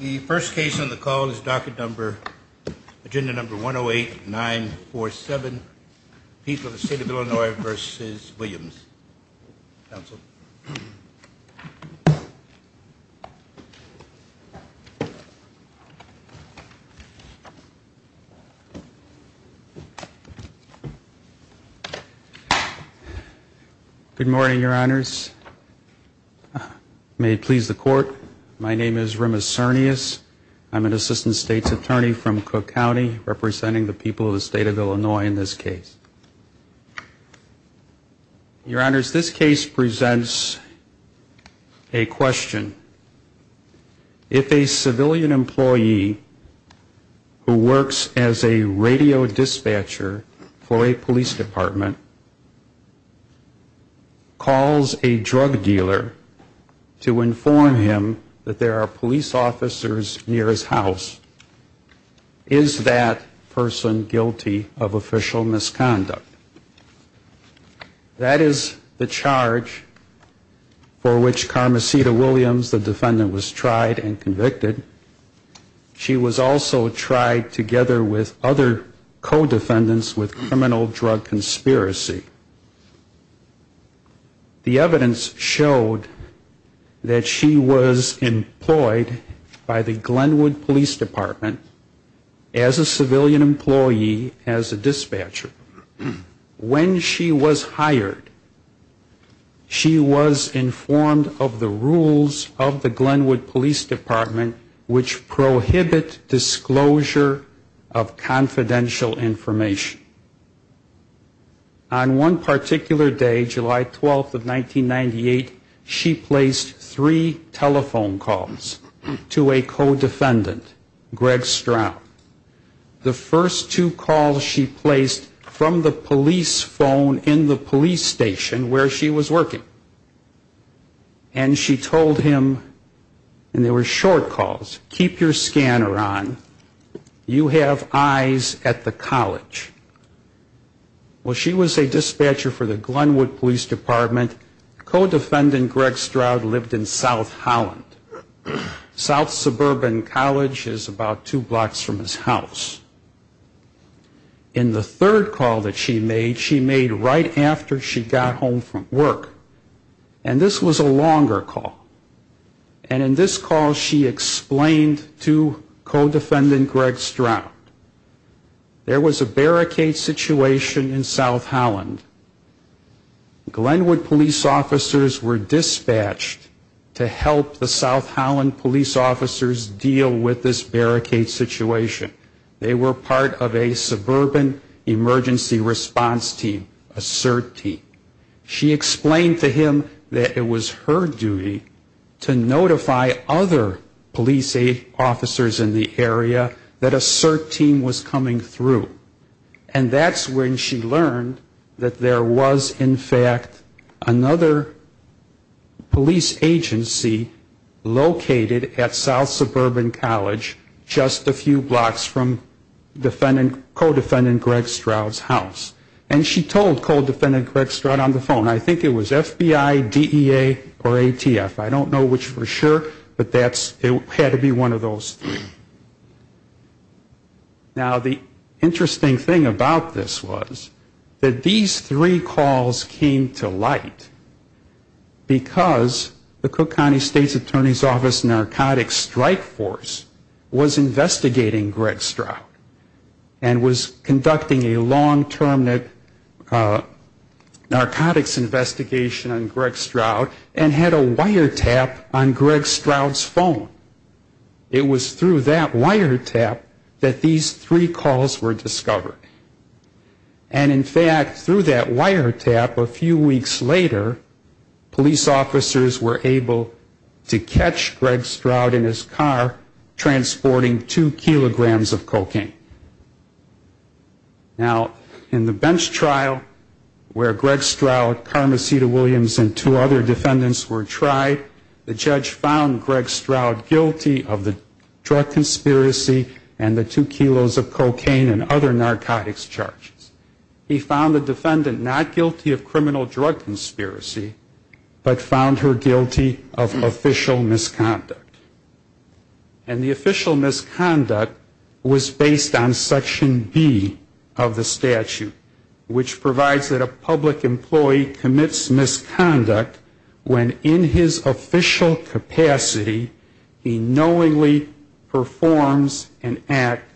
the first case on the call is docket number agenda number 108 947 people the state of Illinois versus Williams Good morning, your honors. May it please the court. My name is Rimas Sarnias. I'm an assistant state's attorney from Cook County representing the people of the state of Illinois in this case presents a question. If a civilian employee who works as a radio dispatcher for a police department calls a drug dealer to inform him that there are police officers near his house, is that person guilty of official misconduct? That is the charge for which Carmecita Williams, the defendant, was tried and convicted. She was also tried together with other co-defendants with criminal drug conspiracy. The evidence showed that she was employed by the Glenwood Police Department as a civilian employee, as a dispatcher. When she was hired, she was informed of the rules of the Glenwood Police Department which prohibit disclosure of confidential information. On one particular day, July 12th of 1998, she placed three telephone calls to a co-defendant, Greg Stroud. The first two calls she placed from the police phone in the police station where she was you have eyes at the college. Well, she was a dispatcher for the Glenwood Police Department. Co-defendant Greg Stroud lived in South Holland. South Suburban College is about two blocks from his house. In the third call that she made, she made right Greg Stroud. There was a barricade situation in South Holland. Glenwood police officers were dispatched to help the South Holland police officers deal with this barricade situation. They were part of a suburban emergency response team, a CERT team. She explained to him that it was her duty to notify other police officers in the area that a CERT team was coming through. And that's when she learned that there was, in fact, another police agency located at South Suburban College just a few blocks from co-defendant Greg Stroud's house. And she told co-defendant Greg Stroud on the phone, I think it was FBI, DEA, or ATF. I don't know which for sure, but it had to be one of those three. Now, the interesting thing about this was that these three calls came to light because the Cook County State's Attorney's Office Narcotics Strike Force was investigating Greg Stroud and was conducting a long-term narcotics investigation on Greg Stroud and had a wiretap on Greg Stroud's phone. It was through that wiretap that these three calls were discovered. And, in fact, through that wiretap, they were able to catch Greg Stroud in his car transporting two kilograms of cocaine. Now, in the bench trial where Greg Stroud, Carmecita Williams, and two other defendants were tried, the judge found Greg Stroud guilty of the drug conspiracy and the two kilos of cocaine and other narcotics charges. He found the defendant not guilty of criminal drug conspiracy, but found her guilty of official narcotics charges. And the official misconduct was based on Section B of the statute, which provides that a public employee commits misconduct when in his official capacity he knowingly performs an act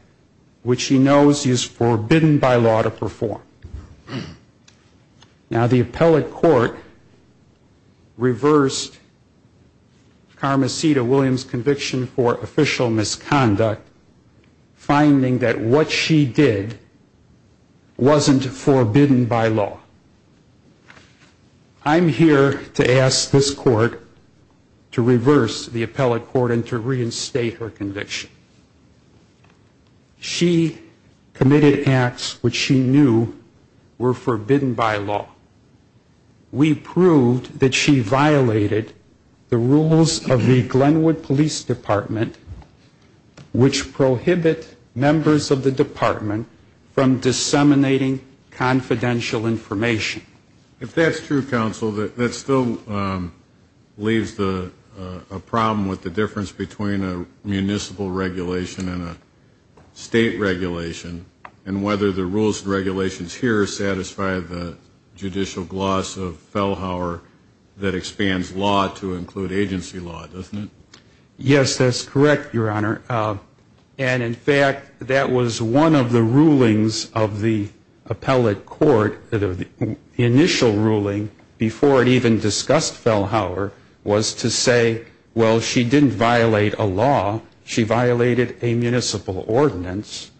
which he knows is forbidden by law to perform. Now, the appellate court reversed Carmecita Williams' conviction for official misconduct, finding that what she did wasn't forbidden by law. I'm here to ask this court to reverse the appellate court and to reinstate her conviction. She committed acts which she knew were forbidden by law. We proved that she violated the rules of the law, and we proved that she violated the rules of the law for her convenience. Do you agree that we should go back to our context of crimes of offense, and punish people for perjury, manslaughter, and other crimes that somebody committed? When I first saw the case of Walden Silverman, I was lucky to follow the case of a crime of offense which was preordained by court of law, and I was lucky to follow the case of Felhauer. And I was lucky to follow the case of Felhauer. Yes, that's correct, Your Honor. And in fact, that was one of the rulings of the appellate court, the initial ruling before it even discussed Felhauer was to say, well, she didn't violate a law. She violated a municipal ordinance.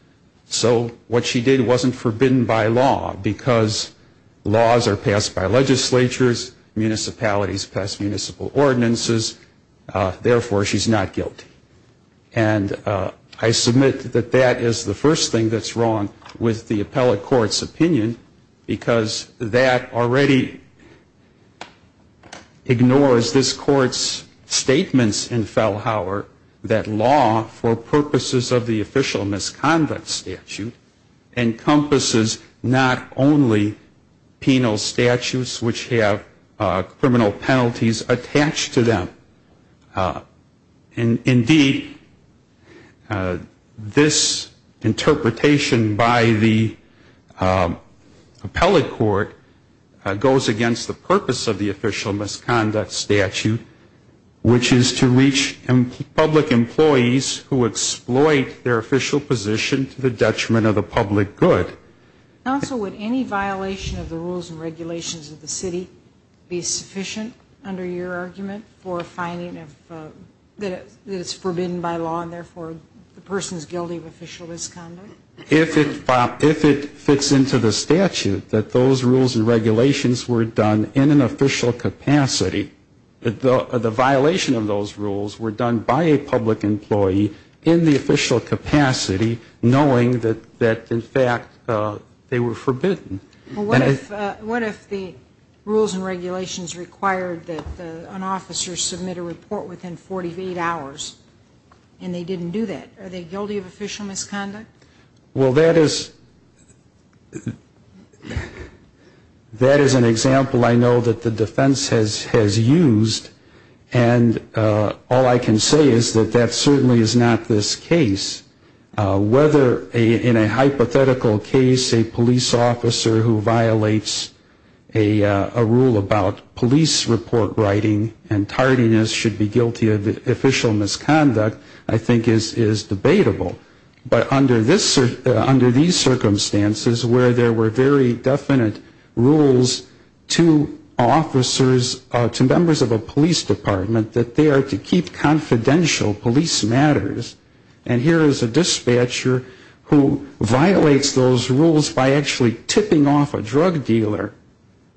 So what she did wasn't forbidden by law, because laws are law, and therefore she's not guilty. And I submit that that is the first thing that's wrong with the appellate court's opinion, because that already ignores this court's statements in Felhauer that law for purposes of the official misconduct statute encompasses not only penal statutes, which have criminal penalties attached to them. Indeed, this interpretation by the appellate court goes against the purpose of the official misconduct statute, which is to reach public employees who exploit their official position to the detriment of the public good. Counsel, would any violation of the rules and regulations of the city be sufficient, under your argument, for a finding that it's forbidden by law, and therefore the person's guilty of official misconduct? If it fits into the statute that those rules and regulations were done in an official capacity, the violation of those rules were done by a public employee in the official capacity, knowing that, in fact, the person's guilty. But they were forbidden. What if the rules and regulations required that an officer submit a report within 48 hours, and they didn't do that? Are they guilty of official misconduct? Well, that is an example I know that the defense has used, and all I can say is that that certainly is not this case. Whether in a hypothetical case a police officer who violates a rule about police report writing and tardiness should be guilty of official misconduct, I think is debatable. But under these circumstances, where there were very definite rules to officers, to members of a police department, that they are to keep confidential police matters, and here is a dispatcher who violates the rules and regulations of the city. I don't think it's fair to say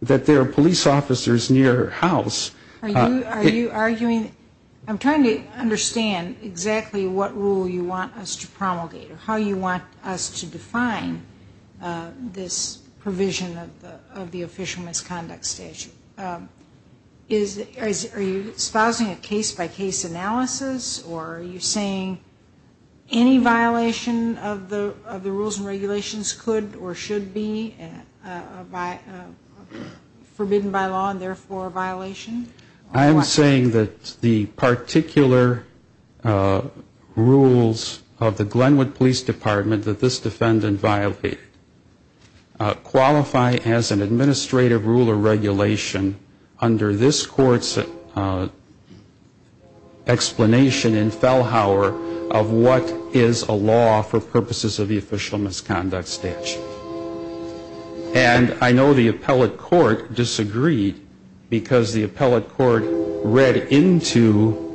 that there are officers who violate those rules by actually tipping off a drug dealer, that there are police officers near her house. Are you arguing, I'm trying to understand exactly what rule you want us to promulgate, or how you want us to define this provision of the official misconduct? I'm saying that the particular rules of the Glenwood Police Department that this defendant violated qualify as an administrative rule or regulation under this court's explanation in Fellhauer of what is a law for purposes of the official misconduct. And I know the appellate court disagreed, because the appellate court read into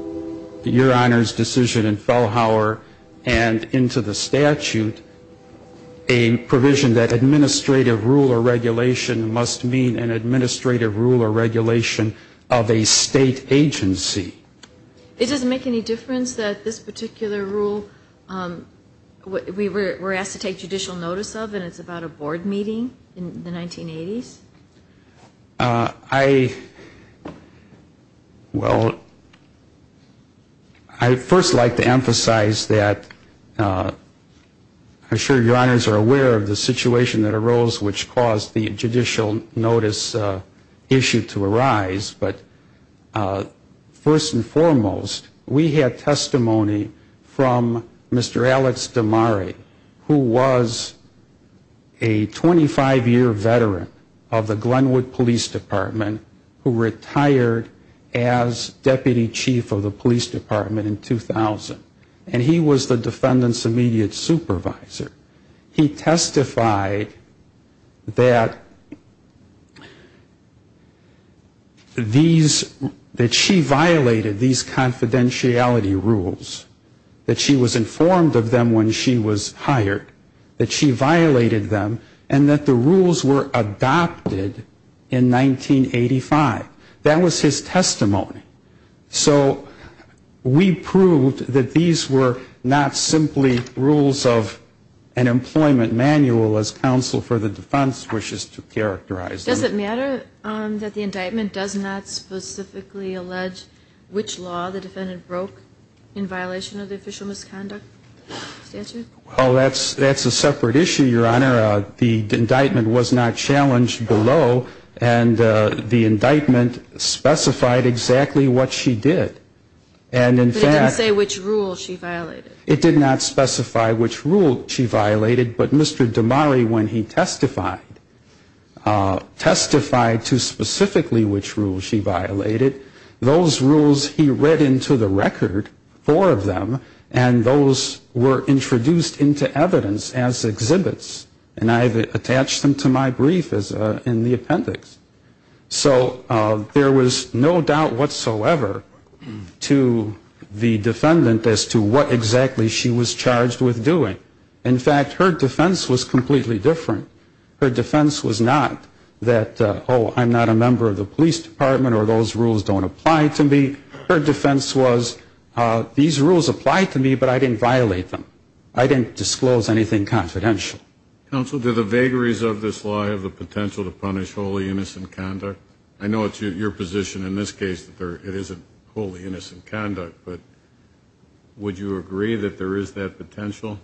your Honor's decision in Fellhauer and into the statute a provision that administrative rule or regulation must mean an administrative rule or regulation of a state agency. It doesn't make any difference that this particular rule, we were asked to take judicial action on it. But I would like to understand what you're talking about, I'm not trying to take any official notice of, and it's about a board meeting in the 1980s? I, well, I'd first like to emphasize that I'm sure your Honors are aware of the situation that arose which caused the judicial notice issue to arise. But first and foremost, we had testimony from Mr. Alex DeMare, who was a former member of the Glenwood Police Department, who was a 25-year veteran of the Glenwood Police Department, who retired as Deputy Chief of the Police Department in 2000, and he was the defendant's immediate supervisor. He testified that these, that she violated these confidentiality rules, that she was informed of them when she was hired, that she violated them, and that the rules were adopted in 1985. That was his testimony. So we proved that these were not simply rules of an employment manual, as counsel for the defense wishes to characterize them. Does it matter that the indictment does not specifically allege which law the defendant broke in violation of the official misconduct statute? Well, that's a separate issue, Your Honor. The indictment was not challenged below, and the indictment specified exactly what she did. And in fact... But it didn't say which rules she violated. It did not specify which rules she violated, but Mr. DeMare, when he testified, testified to specifically which rules she violated. Those rules he read into the record, four of them, and those were introduced into evidence as exhibits, and I've attached them to my brief in the appendix. So there was no doubt whatsoever to the defendant as to what exactly she was charged with doing. In fact, her defense was completely different. Her defense was not that, oh, I'm not a member of the police department or those rules don't apply to me. Her defense was, these rules apply to me, but I didn't violate them. I didn't disclose anything confidential. Counsel, do the vagaries of this law have the potential to punish wholly innocent conduct? I know it's your position in this case that it isn't wholly innocent conduct, but would you agree that there is that potential?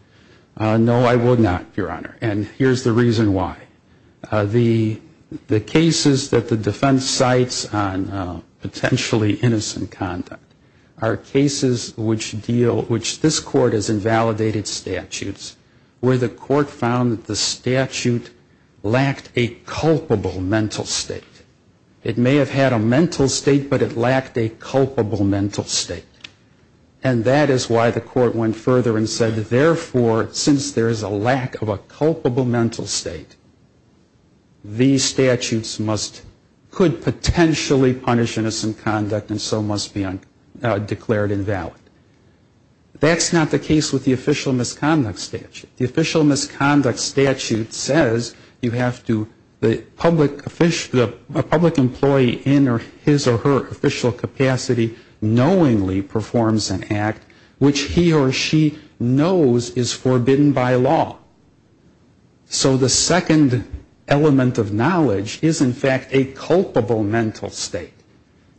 No, I would not, Your Honor, and here's the reason why. The cases that the defense cites on potentially innocent conduct are cases which deal, which this Court has invalidated statutes, where the Court found that the statute lacked a culpable mental state. It may have had a mental state, but it lacked a culpable mental state, and that is why the Court went further and said that, therefore, since there is a lack of a culpable mental state, there is a lack of a culpable mental state. These statutes must, could potentially punish innocent conduct and so must be declared invalid. That's not the case with the official misconduct statute. The official misconduct statute says you have to, the public, a public employee in his or her official capacity knowingly performs an act which he or she knows is forbidden by law. So the second element of knowledge is, in fact, a culpable mental state.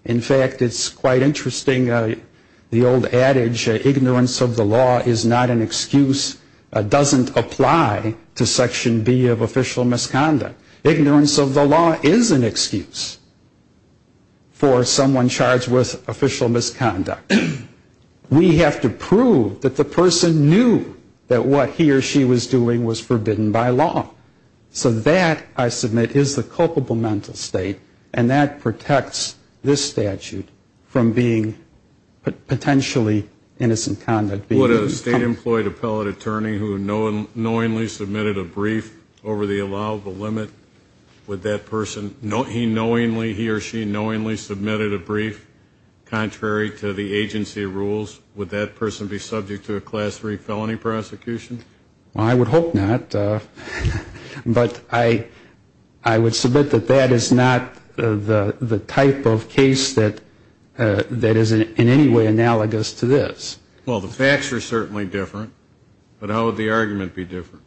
In fact, it's quite interesting, the old adage, ignorance of the law is not an excuse, doesn't apply to Section B of official misconduct. Ignorance of the law is an excuse for someone charged with official misconduct. We have to prove that the person knew that what he or she was doing was forbidden by law. So that, I submit, is the culpable mental state, and that protects this statute from being potentially innocent conduct. Would a state-employed appellate attorney who knowingly submitted a brief over the allowable limit, would that person, he knowingly, he or she knowingly submitted a brief contrary to the agency rules, would that person be subject to a Class III felony prosecution? Well, I would hope not, but I would submit that that is not the type of case that is in any way analogous to this. Well, the facts are certainly different, but how would the argument be different?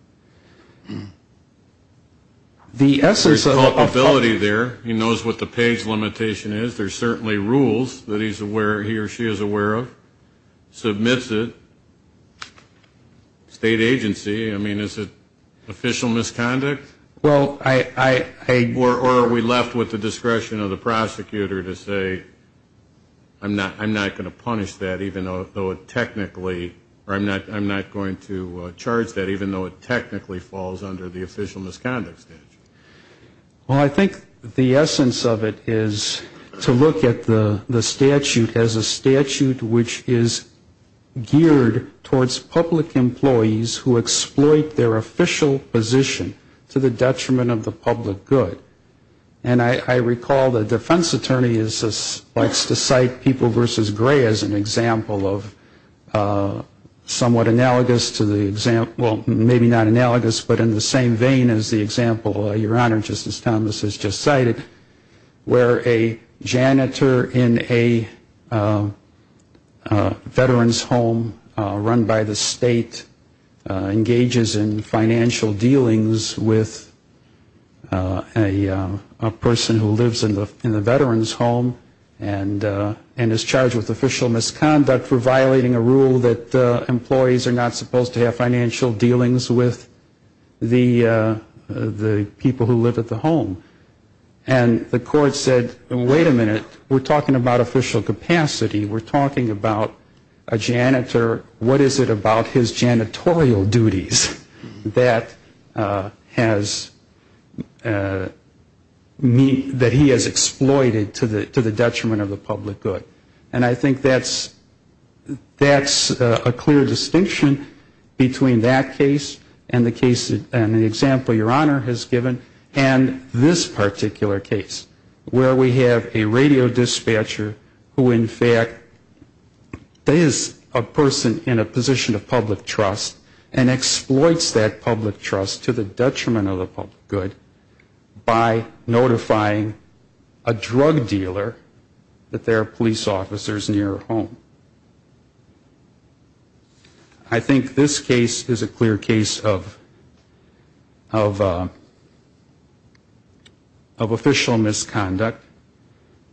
There's culpability there, he knows what the page limitation is, there's certainly rules that he or she is aware of, submits it, and then he or she submits it to the state agency. I mean, is it official misconduct? Or are we left with the discretion of the prosecutor to say, I'm not going to punish that, even though it technically, or I'm not going to charge that, even though it technically falls under the official misconduct statute? Well, I think the essence of it is to look at the statute as a statute which is geared towards public employees and employees who exploit their official position to the detriment of the public good. And I recall the defense attorney likes to cite People v. Gray as an example of somewhat analogous to the example, well, maybe not analogous, but in the same vein as the example, Your Honor, Justice Thomas has just cited, where a janitor in a veteran's home run by the state engages in financial dealings with a person who lives in the veteran's home and is charged with official misconduct for violating a rule that employees are not supposed to have financial dealings with the people who live at the home. And the court said, wait a minute, we're talking about official capacity, we're talking about a janitor, what is it that he's charged about his janitorial duties that has, that he has exploited to the detriment of the public good? And I think that's a clear distinction between that case and the case, and the example Your Honor has given, and this particular case, where we have a radio dispatcher who in fact is a person in a position to be charged with official misconduct. He's in a position of public trust and exploits that public trust to the detriment of the public good by notifying a drug dealer that there are police officers near her home. I think this case is a clear case of official misconduct.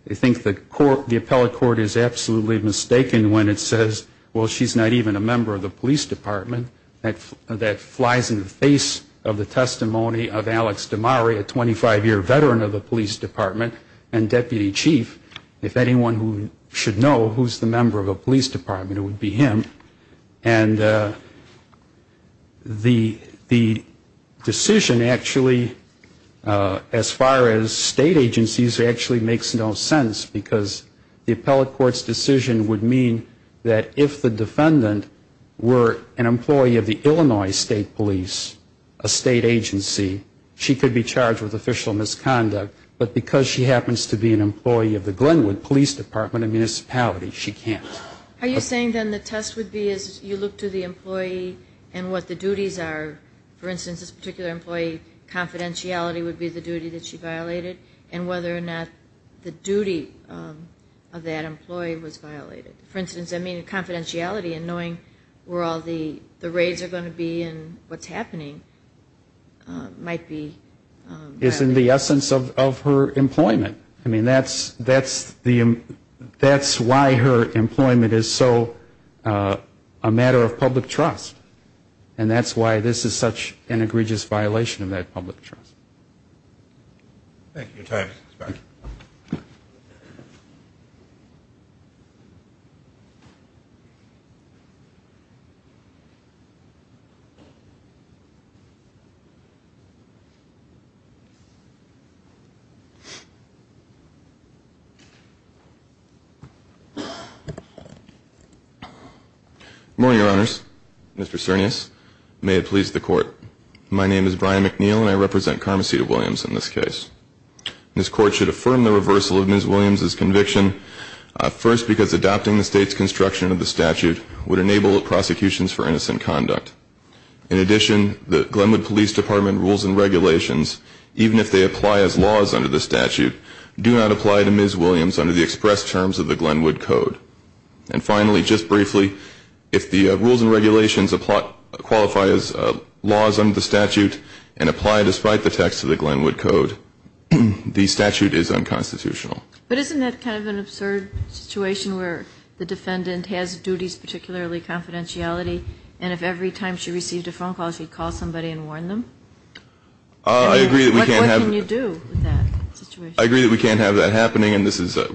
I think the court, the appellate court is absolutely mistaken when it says, well, she's not even a member of the public police department, that flies in the face of the testimony of Alex Damari, a 25-year veteran of the police department and deputy chief. If anyone should know who's the member of a police department, it would be him. And the decision actually, as far as state agencies, actually makes no sense, because the appellate court's decision would mean that if the defendant were an employee of the Illinois State Police, a state agency, she could be charged with official misconduct, but because she happens to be an employee of the Glenwood Police Department and municipality, she can't. Are you saying then the test would be as you look to the employee and what the duties are, for instance, this particular employee, confidentiality would be the duty that she violated, and whether or not the duty of that employee was violated? For instance, I mean, confidentiality and knowing where all the raids are going to be and what's happening might be violated. It's in the essence of her employment. I mean, that's why her employment is so a matter of public trust, and that's why this is such an egregious violation of that public trust. Thank you. Good morning, Your Honors. Mr. Cernas, may it please the Court. My name is Brian McNeil, and I represent Karma Cedar Williams in this case. This Court should affirm the reversal of Ms. Williams' conviction, first because adopting the State's construction of the statute would enable prosecutions for innocent conduct. In addition, the Glenwood Police Department rules and regulations, even if they apply as laws under the statute, do not apply to Ms. Williams under the express terms of the Glenwood Code. And finally, just briefly, if the rules and regulations qualify as laws under the statute and apply despite the text of the statute, the statute is unconstitutional. But isn't that kind of an absurd situation where the defendant has duties, particularly confidentiality, and if every time she received a phone call, she'd call somebody and warn them? I agree that we can't have that happening, and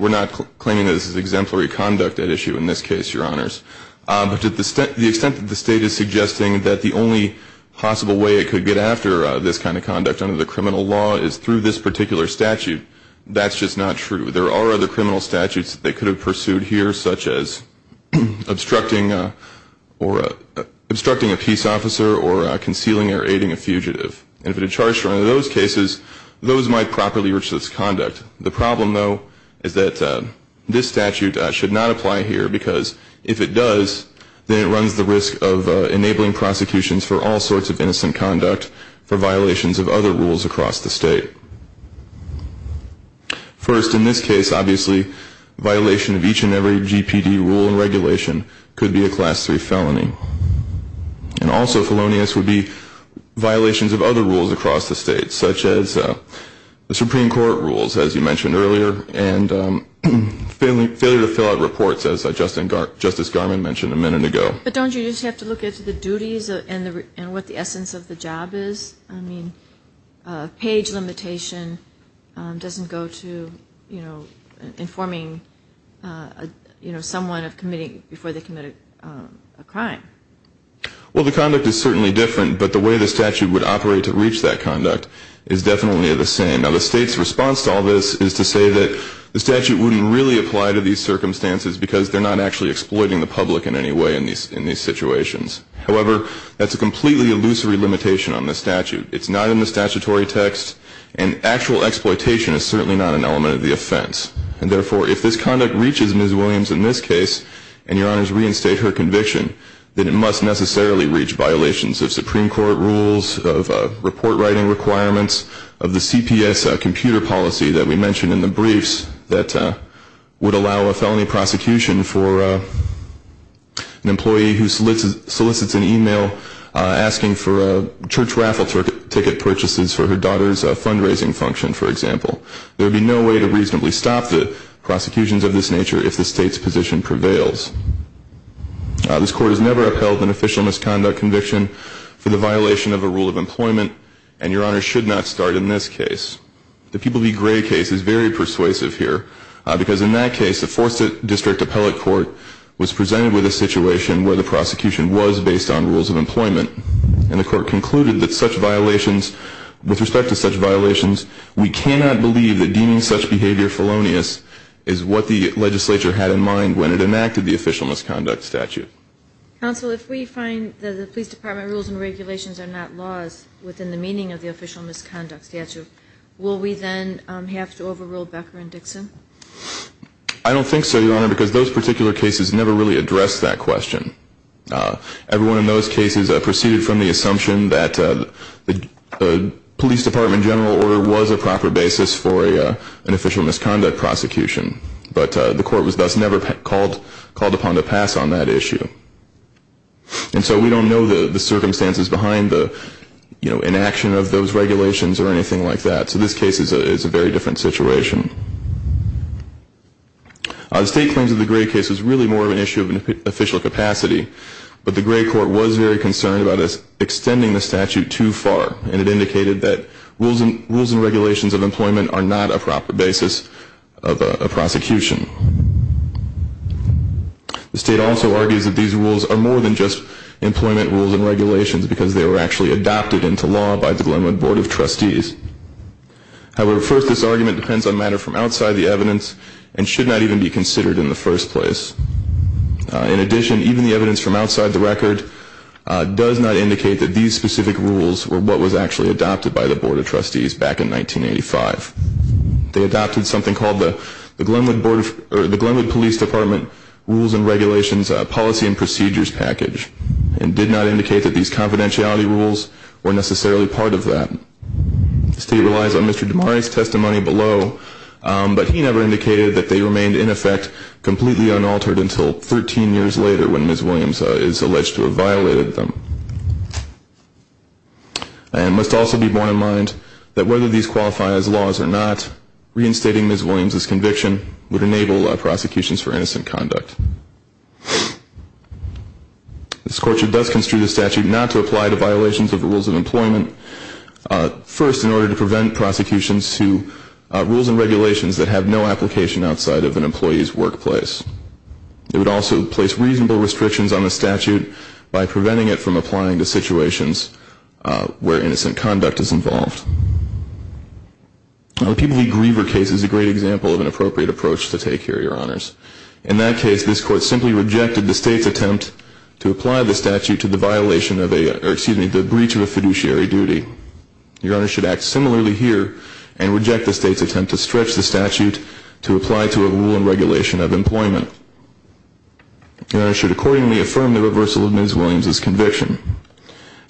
we're not claiming that this is exemplary conduct at issue in this case, Your Honors. But to the extent that the State is suggesting that the only possible way it could get after this kind of conduct under the criminal law is through a particular statute, that's just not true. There are other criminal statutes that they could have pursued here, such as obstructing a peace officer or concealing or aiding a fugitive. And if it had charged her under those cases, those might properly reach this conduct. The problem, though, is that this statute should not apply here, because if it does, then it runs the risk of enabling prosecutions for all sorts of crimes. First, in this case, obviously, violation of each and every GPD rule and regulation could be a Class III felony. And also felonious would be violations of other rules across the State, such as the Supreme Court rules, as you mentioned earlier, and failure to fill out reports, as Justice Garmon mentioned a minute ago. But don't you just have to look at the duties and what the essence of the job is? I mean, a page limitation doesn't go to informing someone before they committed a crime. Well, the conduct is certainly different, but the way the statute would operate to reach that conduct is definitely the same. Now, the State's response to all this is to say that the statute wouldn't really apply to these circumstances because they're not actually exploiting the public in any way in these situations. However, that's a completely illusory limitation on the statute. It's not in the statutory text, and actual exploitation is certainly not an element of the offense. And therefore, if this conduct reaches Ms. Williams in this case, and Your Honors reinstate her conviction, then it must necessarily reach violations of Supreme Court rules, of report writing requirements, of the CPS computer policy that we mentioned in the briefs that would allow a felony prosecution for an employee who solicits a e-mail asking for church raffle ticket purchases for her daughter's fundraising function, for example. There would be no way to reasonably stop the prosecutions of this nature if the State's position prevails. This Court has never upheld an official misconduct conviction for the violation of a rule of employment, and Your Honors should not start in this case. The People v. Gray case is very persuasive here because in that case, the Fourth District Appellate Court was presented with a situation where the statute was based on rules of employment, and the Court concluded that such violations, with respect to such violations, we cannot believe that deeming such behavior felonious is what the legislature had in mind when it enacted the official misconduct statute. Counsel, if we find that the police department rules and regulations are not laws within the meaning of the official misconduct statute, will we then have to overrule Becker and Dixon? I don't think so, Your Honor, because those particular cases never really addressed that question. Everyone in those cases proceeded from the assumption that the police department general order was a proper basis for an official misconduct prosecution. But the Court was thus never called upon to pass on that issue. And so we don't know the circumstances behind the, you know, inaction of those regulations or anything like that. So this case is a very different situation. The State claims that the Gray case is really more of an issue of official capacity, but the Gray Court was very concerned about extending the statute too far, and it indicated that rules and regulations of employment are not a proper basis of a prosecution. The State also argues that these rules are more than just employment rules and regulations because they were actually adopted into law by the Glenwood Board of Trustees. However, first, this argument depends on matter from outside the evidence and should not even be considered in the first place. In addition, even the evidence from outside the record does not indicate that these specific rules were what was actually adopted by the Board of Trustees back in 1985. They adopted something called the Glenwood Police Department Rules and Regulations Policy and Procedures Package and did not indicate that these confidentiality rules were necessarily part of that. The State relies on Mr. DiMari's testimony below, but he never indicated that they remained in effect completely unaltered until 13 years later when Ms. Williams is alleged to have violated them. And it must also be borne in mind that whether these qualify as laws or not, reinstating Ms. Williams' conviction would enable prosecutions for innocent conduct. This Court should thus construe the statute not to apply to violations of the rules of employment, first in order to prevent prosecutions to rules and regulations that have no application outside of an employee's workplace. It would also place reasonable restrictions on the statute by preventing it from applying to situations where innocent conduct is involved. The Peabody Griever case is a great example of an appropriate approach to take here, Your Honors. In that case, this Court simply rejected the State's attempt to apply the statute to the breach of a fiduciary duty. Your Honors should act similarly here and reject the State's attempt to stretch the statute to apply to a rule and regulation of employment. Your Honors should accordingly affirm the reversal of Ms. Williams' conviction.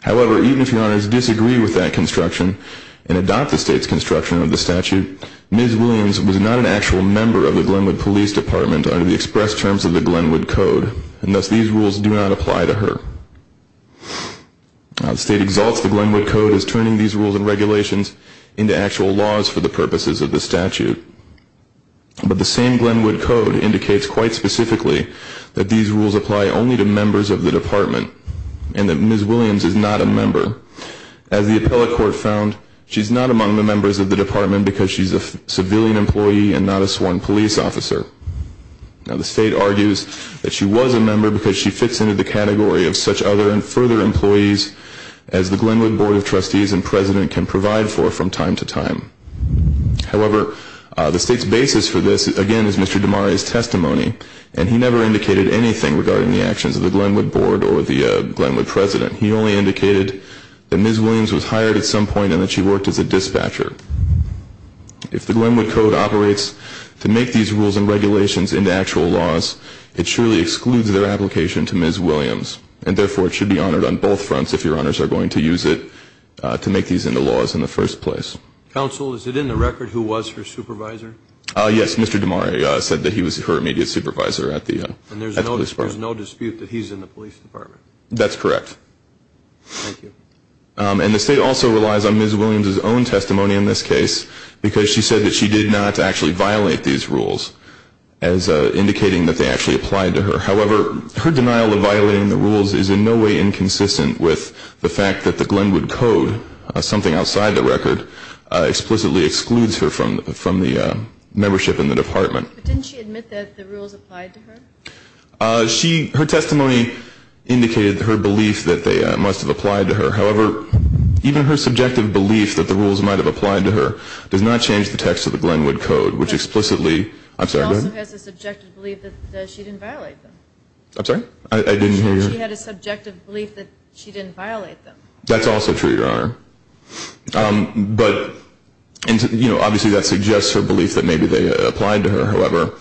However, even if Your Honors disagree with that construction and adopt the State's construction of the statute, Ms. Williams was not an actual member of the Glenwood Police Department under the express terms of the Glenwood Code, and thus these rules do not apply to her. The State exalts the Glenwood Code as turning these rules and regulations into actual laws for the purposes of the statute. But the same Glenwood Code indicates quite specifically that these rules apply only to members of the Department as the appellate court found she's not among the members of the Department because she's a civilian employee and not a sworn police officer. Now the State argues that she was a member because she fits into the category of such other and further employees as the Glenwood Board of Trustees and President can provide for from time to time. However, the State's basis for this, again, is Mr. DeMaria's testimony, and he never indicated anything regarding the actions of the Glenwood Board or the Glenwood President. He only indicated that Ms. Williams was hired at some point and that she worked as a dispatcher. If the Glenwood Code operates to make these rules and regulations into actual laws, it surely excludes their application to Ms. Williams, and therefore it should be honored on both fronts if Your Honors are going to use it to make these into laws in the first place. Counsel, is it in the record who was her supervisor? Yes, Mr. DeMaria said that he was her immediate supervisor at the police department. And there's no dispute that he's in the police department? That's correct. Thank you. And the State also relies on Ms. Williams' own testimony in this case because she said that she did not actually violate these rules as indicating that they actually applied to her. However, her denial of violating the rules is in no way inconsistent with the fact that the Glenwood Code, something outside the record, explicitly excludes her from the membership in the department. But didn't she admit that the rules applied to her? Her testimony indicated her belief that they must have applied to her. However, even her subjective belief that the rules might have applied to her does not change the text of the Glenwood Code, which explicitly, I'm sorry, go ahead. She also has a subjective belief that she didn't violate them. I'm sorry? I didn't hear you. She had a subjective belief that she didn't violate them. That's also true, Your Honor. But, you know, obviously that suggests her belief that maybe they applied to her. However,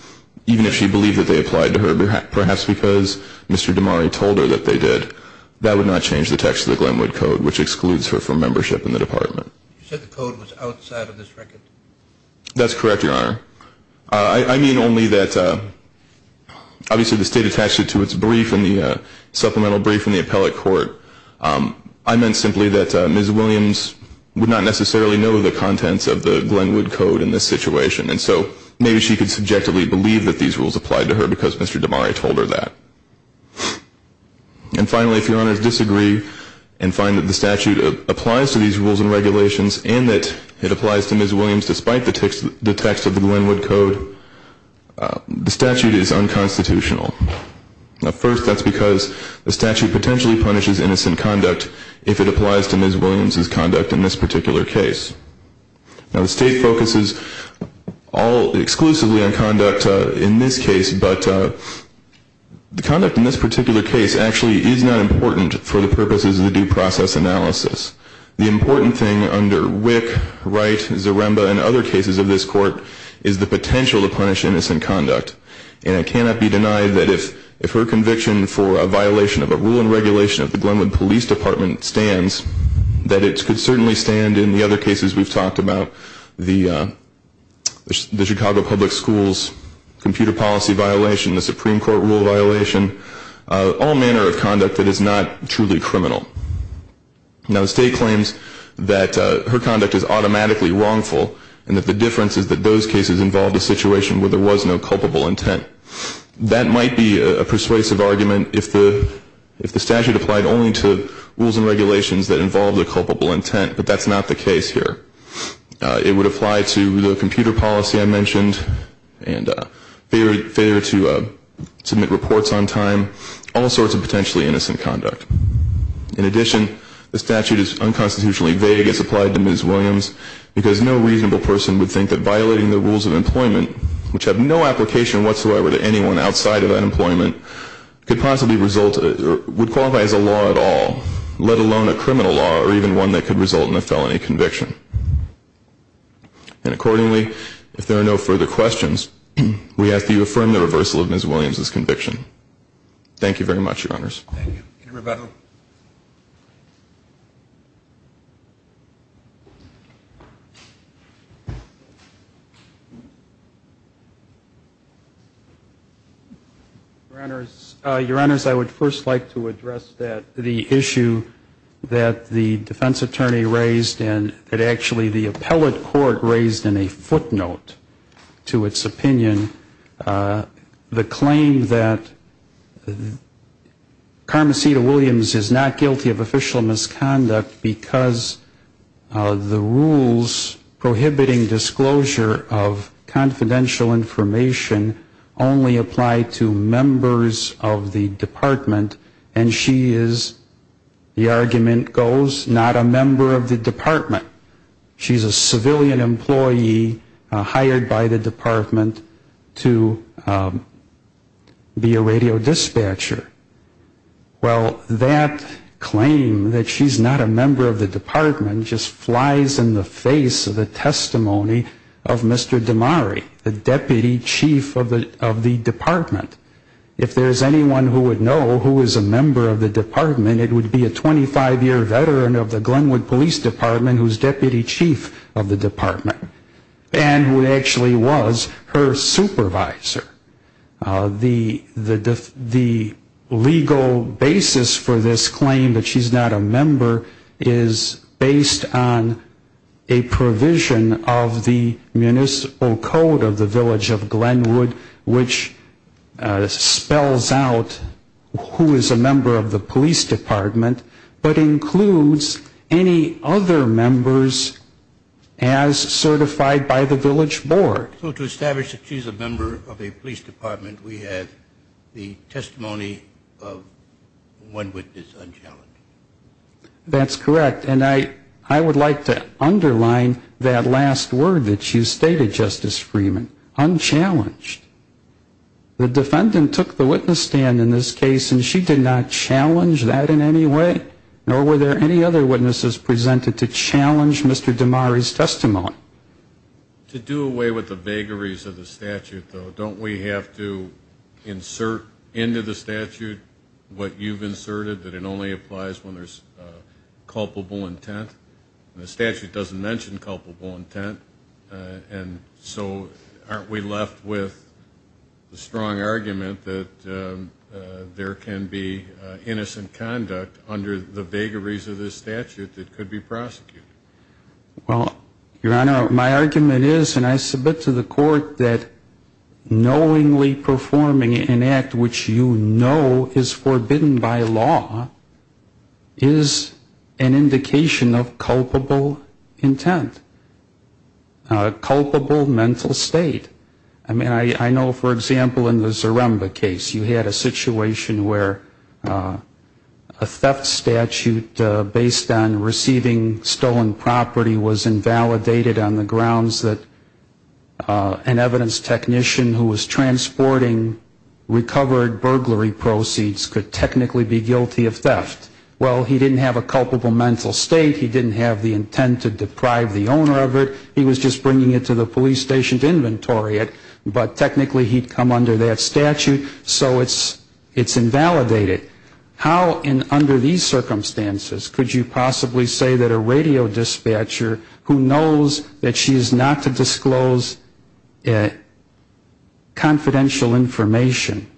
even if she believed that they applied to her, perhaps because Mr. Damari told her that they did, that would not change the text of the Glenwood Code, which excludes her from membership in the department. You said the code was outside of this record? That's correct, Your Honor. I mean only that, obviously, the State attached it to its brief in the supplemental brief in the appellate court. I meant simply that Ms. Williams would not necessarily know the contents of the Glenwood Code in this situation. And so maybe she could subjectively believe that these rules applied to her because Mr. Damari told her that. And finally, if Your Honor's disagree and find that the statute applies to these rules and regulations and that it applies to Ms. Williams despite the text of the Glenwood Code, the statute is unconstitutional. First, that's because the statute potentially punishes innocent conduct if it applies to Ms. Williams' conduct in this particular case. Now, the State focuses exclusively on conduct in this case, but the conduct in this particular case actually is not important for the purposes of the due process analysis. The important thing under Wick, Wright, Zaremba, and other cases of this court is the potential to punish innocent conduct. And it cannot be denied that if her conviction for a violation of a rule and regulation of the Glenwood Police Department stands, that it could certainly stand in the other cases we've talked about, the Chicago Public Schools computer policy violation, the Supreme Court rule violation, all manner of conduct that is not truly criminal. Now, the State claims that her conduct is automatically wrongful and that the difference is that those cases involved a situation where there was no culpable intent. That might be a persuasive argument if the statute applied only to rules and regulations that involved a culpable intent, but that's not the case here. It would apply to the computer policy I mentioned and failure to submit reports on time, all sorts of potentially innocent conduct. In addition, the statute is unconstitutionally vague as applied to Ms. Williams because no reasonable person would think that violating the rules of employment, which have no application whatsoever to anyone outside of unemployment, could possibly result or would qualify as a law at all, let alone a criminal law or even one that could result in a felony conviction. And accordingly, if there are no further questions, we ask that you affirm the reversal of Ms. Williams' conviction. Thank you very much, Your Honors. Thank you. Your Honors, I would first like to address the issue that the defense attorney raised and that actually the appellate court raised in a footnote to its opinion. The claim that Carmencita Williams is not guilty of official misconduct because the rules prohibiting disclosure of confidential information only apply to members of the department and she is, the argument goes, not a member of the department. She's a civilian employee hired by the department to be a radio dispatcher. Well, that claim that she's not a member of the department just flies in the face of the testimony of Mr. Damari, the deputy chief of the department. If there's anyone who would know who is a member of the department, it would be a 25-year veteran of the Glenwood Police Department who's deputy chief of the department and who actually was her supervisor. The legal basis for this claim that she's not a member is based on a provision of the municipal code of the village of Glenwood which spells out who is a member of the police department but includes any other members as certified by the village board. So to establish that she's a member of a police department, we have the testimony of one witness unchallenged. That's correct. And I would like to underline that last word that you stated, Justice Freeman, unchallenged. The defendant took the witness stand in this case and she did not challenge that in any way nor were there any other witnesses presented to challenge Mr. Damari's testimony. To do away with the vagaries of the statute though, don't we have to insert into the statute what you've inserted, that it only applies when there's culpable intent and the statute doesn't mention culpable intent and so aren't we left with the strong argument that there can be innocent conduct under the vagaries of this statute that could be prosecuted? Well, Your Honor, my argument is and I submit to the court that knowingly performing an act which you know is forbidden by law is an indication of culpable intent, culpable mental state. I mean, I know, for example, in the Zaremba case you had a situation where a theft statute based on receiving stolen property was invalidated on the grounds that an evidence technician who was transporting recovered burglary proceeds could technically be guilty of theft. Well, he didn't have a culpable mental state, he didn't have the intent to deprive the owner of it, he was just bringing it to the police station to inventory it, but technically he'd come under that statute so it's invalidated. How in under these circumstances could you possibly say that a radio dispatcher who knows that she is not to disclose confidential information?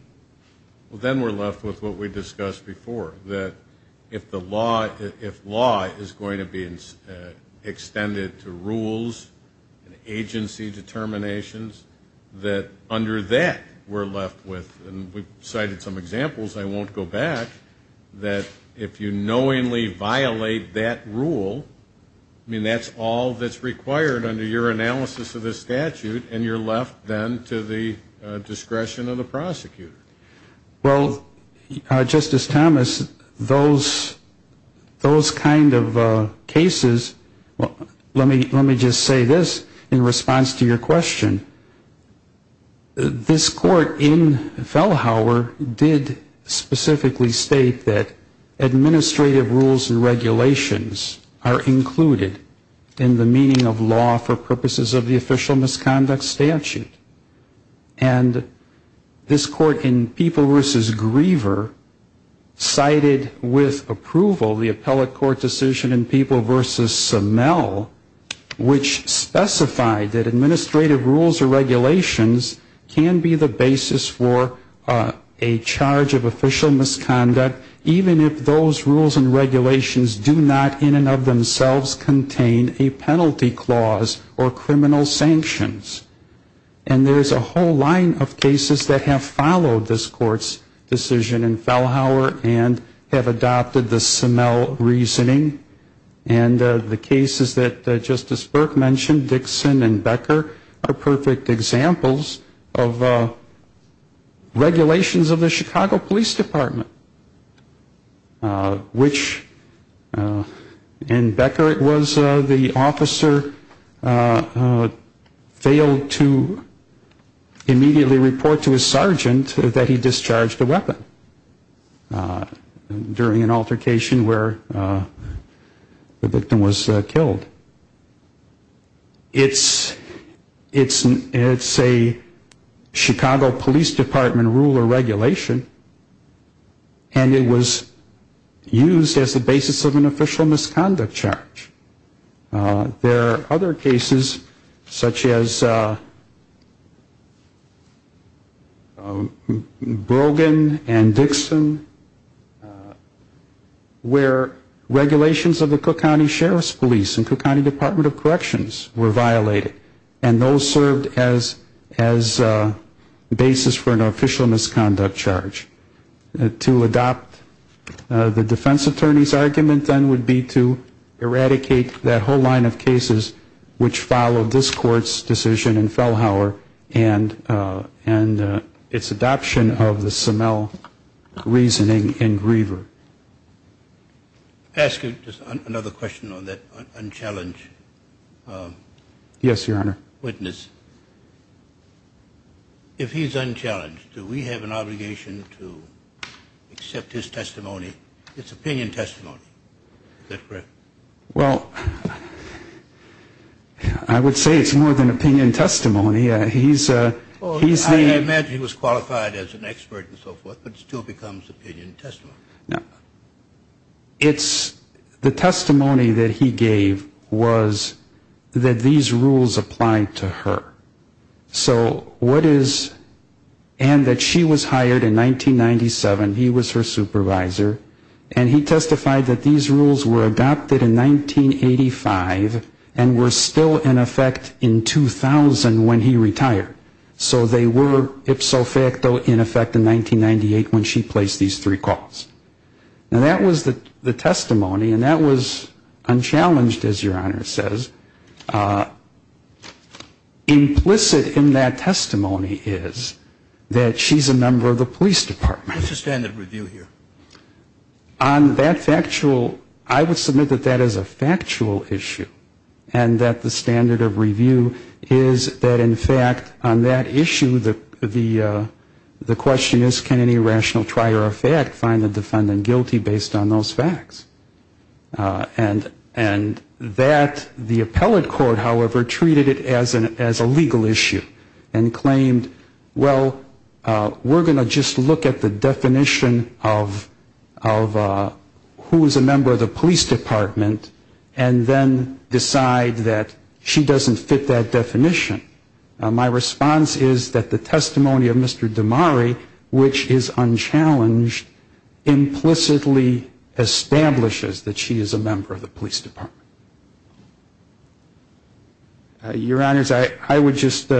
Well, then we're left with what we discussed before, that if law is going to be extended to rules and agency determinations, that under that we're left with, and we've cited some examples, I won't go back, that if you knowingly violate that rule, I mean, that's all that's required under your analysis of the statute, and you're left then to the discretion of the prosecutor. Well, Justice Thomas, those kind of cases, let me just say this in response to your question. This court in Fellhauer did specifically state that administrative rules and regulations are included in the meaning of law for purposes of the official misconduct statute, and this court in People v. Griever cited with approval the appellate court decision in People v. Semel, which specified that administrative rules or regulations can be the basis for a charge of official misconduct, even if those rules and regulations do not in and of themselves contain a penalty clause or criminal sanctions. And there's a whole line of cases that have followed this court's decision in Fellhauer and have adopted the Semel reasoning, and the cases that Justice Burke mentioned, Dixon and Becker, are perfect examples of regulations of the Chicago Police Department, which in Becker it was the officer failed to immediately report to his sergeant that he discharged a weapon during an altercation where the victim was killed. It's a Chicago Police Department rule or regulation, and it was used as the basis of an official misconduct charge. There are other cases, such as Brogan and Dixon, where regulations of the Chicago Police Department, regulations of the Cook County Sheriff's Police and Cook County Department of Corrections were violated, and those served as basis for an official misconduct charge. To adopt the defense attorney's argument then would be to eradicate that whole line of cases which followed this court's decision in Fellhauer and its adoption of the Semel reasoning in Griever. I'll ask you just another question on that unchallenged witness. If he's unchallenged, do we have an obligation to accept his testimony, his opinion testimony? Is that correct? Well, I would say it's more than opinion testimony. He's the... I imagine he was qualified as an expert and so forth, but still becomes opinion testimony. The testimony that he gave was that these rules applied to her. So what is... and that she was hired in 1997, he was her supervisor, and he testified that these rules were adopted in 1985 and were still in effect in 2000 when he retired. So they were ipso facto in effect in 1998 when she placed these three calls. And that was the testimony, and that was unchallenged, as Your Honor says. Implicit in that testimony is that she's a member of the police department. What's the standard of review here? On that factual... I would submit that that is a factual issue, and that the standard of review is that, in fact, on that issue, the question is, can any rational trial or fact find the defendant guilty based on those facts? And that, the appellate court, however, treated it as a legal issue and claimed, well, we're going to just look at the definition of who is a member of the police department and then decide that she doesn't fit that definition. My response is that the testimony of Mr. Murphy is unchallenged, implicitly establishes that she is a member of the police department. Your Honors, I would just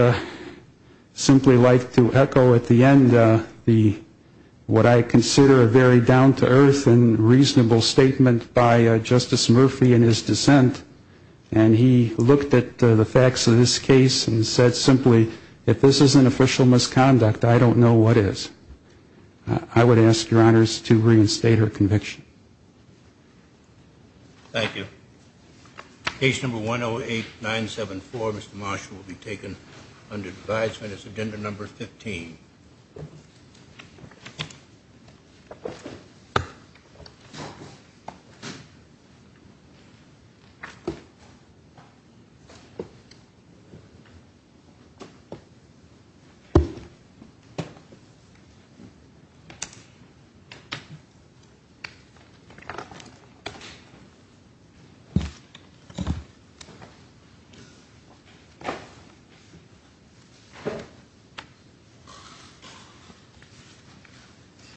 simply like to echo at the end what I consider a very down-to-earth and reasonable statement by Justice Murphy in his dissent, and he looked at the facts of this case and said simply, if this is an official misconduct, I don't know what is. I would ask, Your Honors, to reinstate her conviction. Thank you. Case number 108-974, Mr. Marshall, will be taken under advisement. It's agenda number 15. Thank you.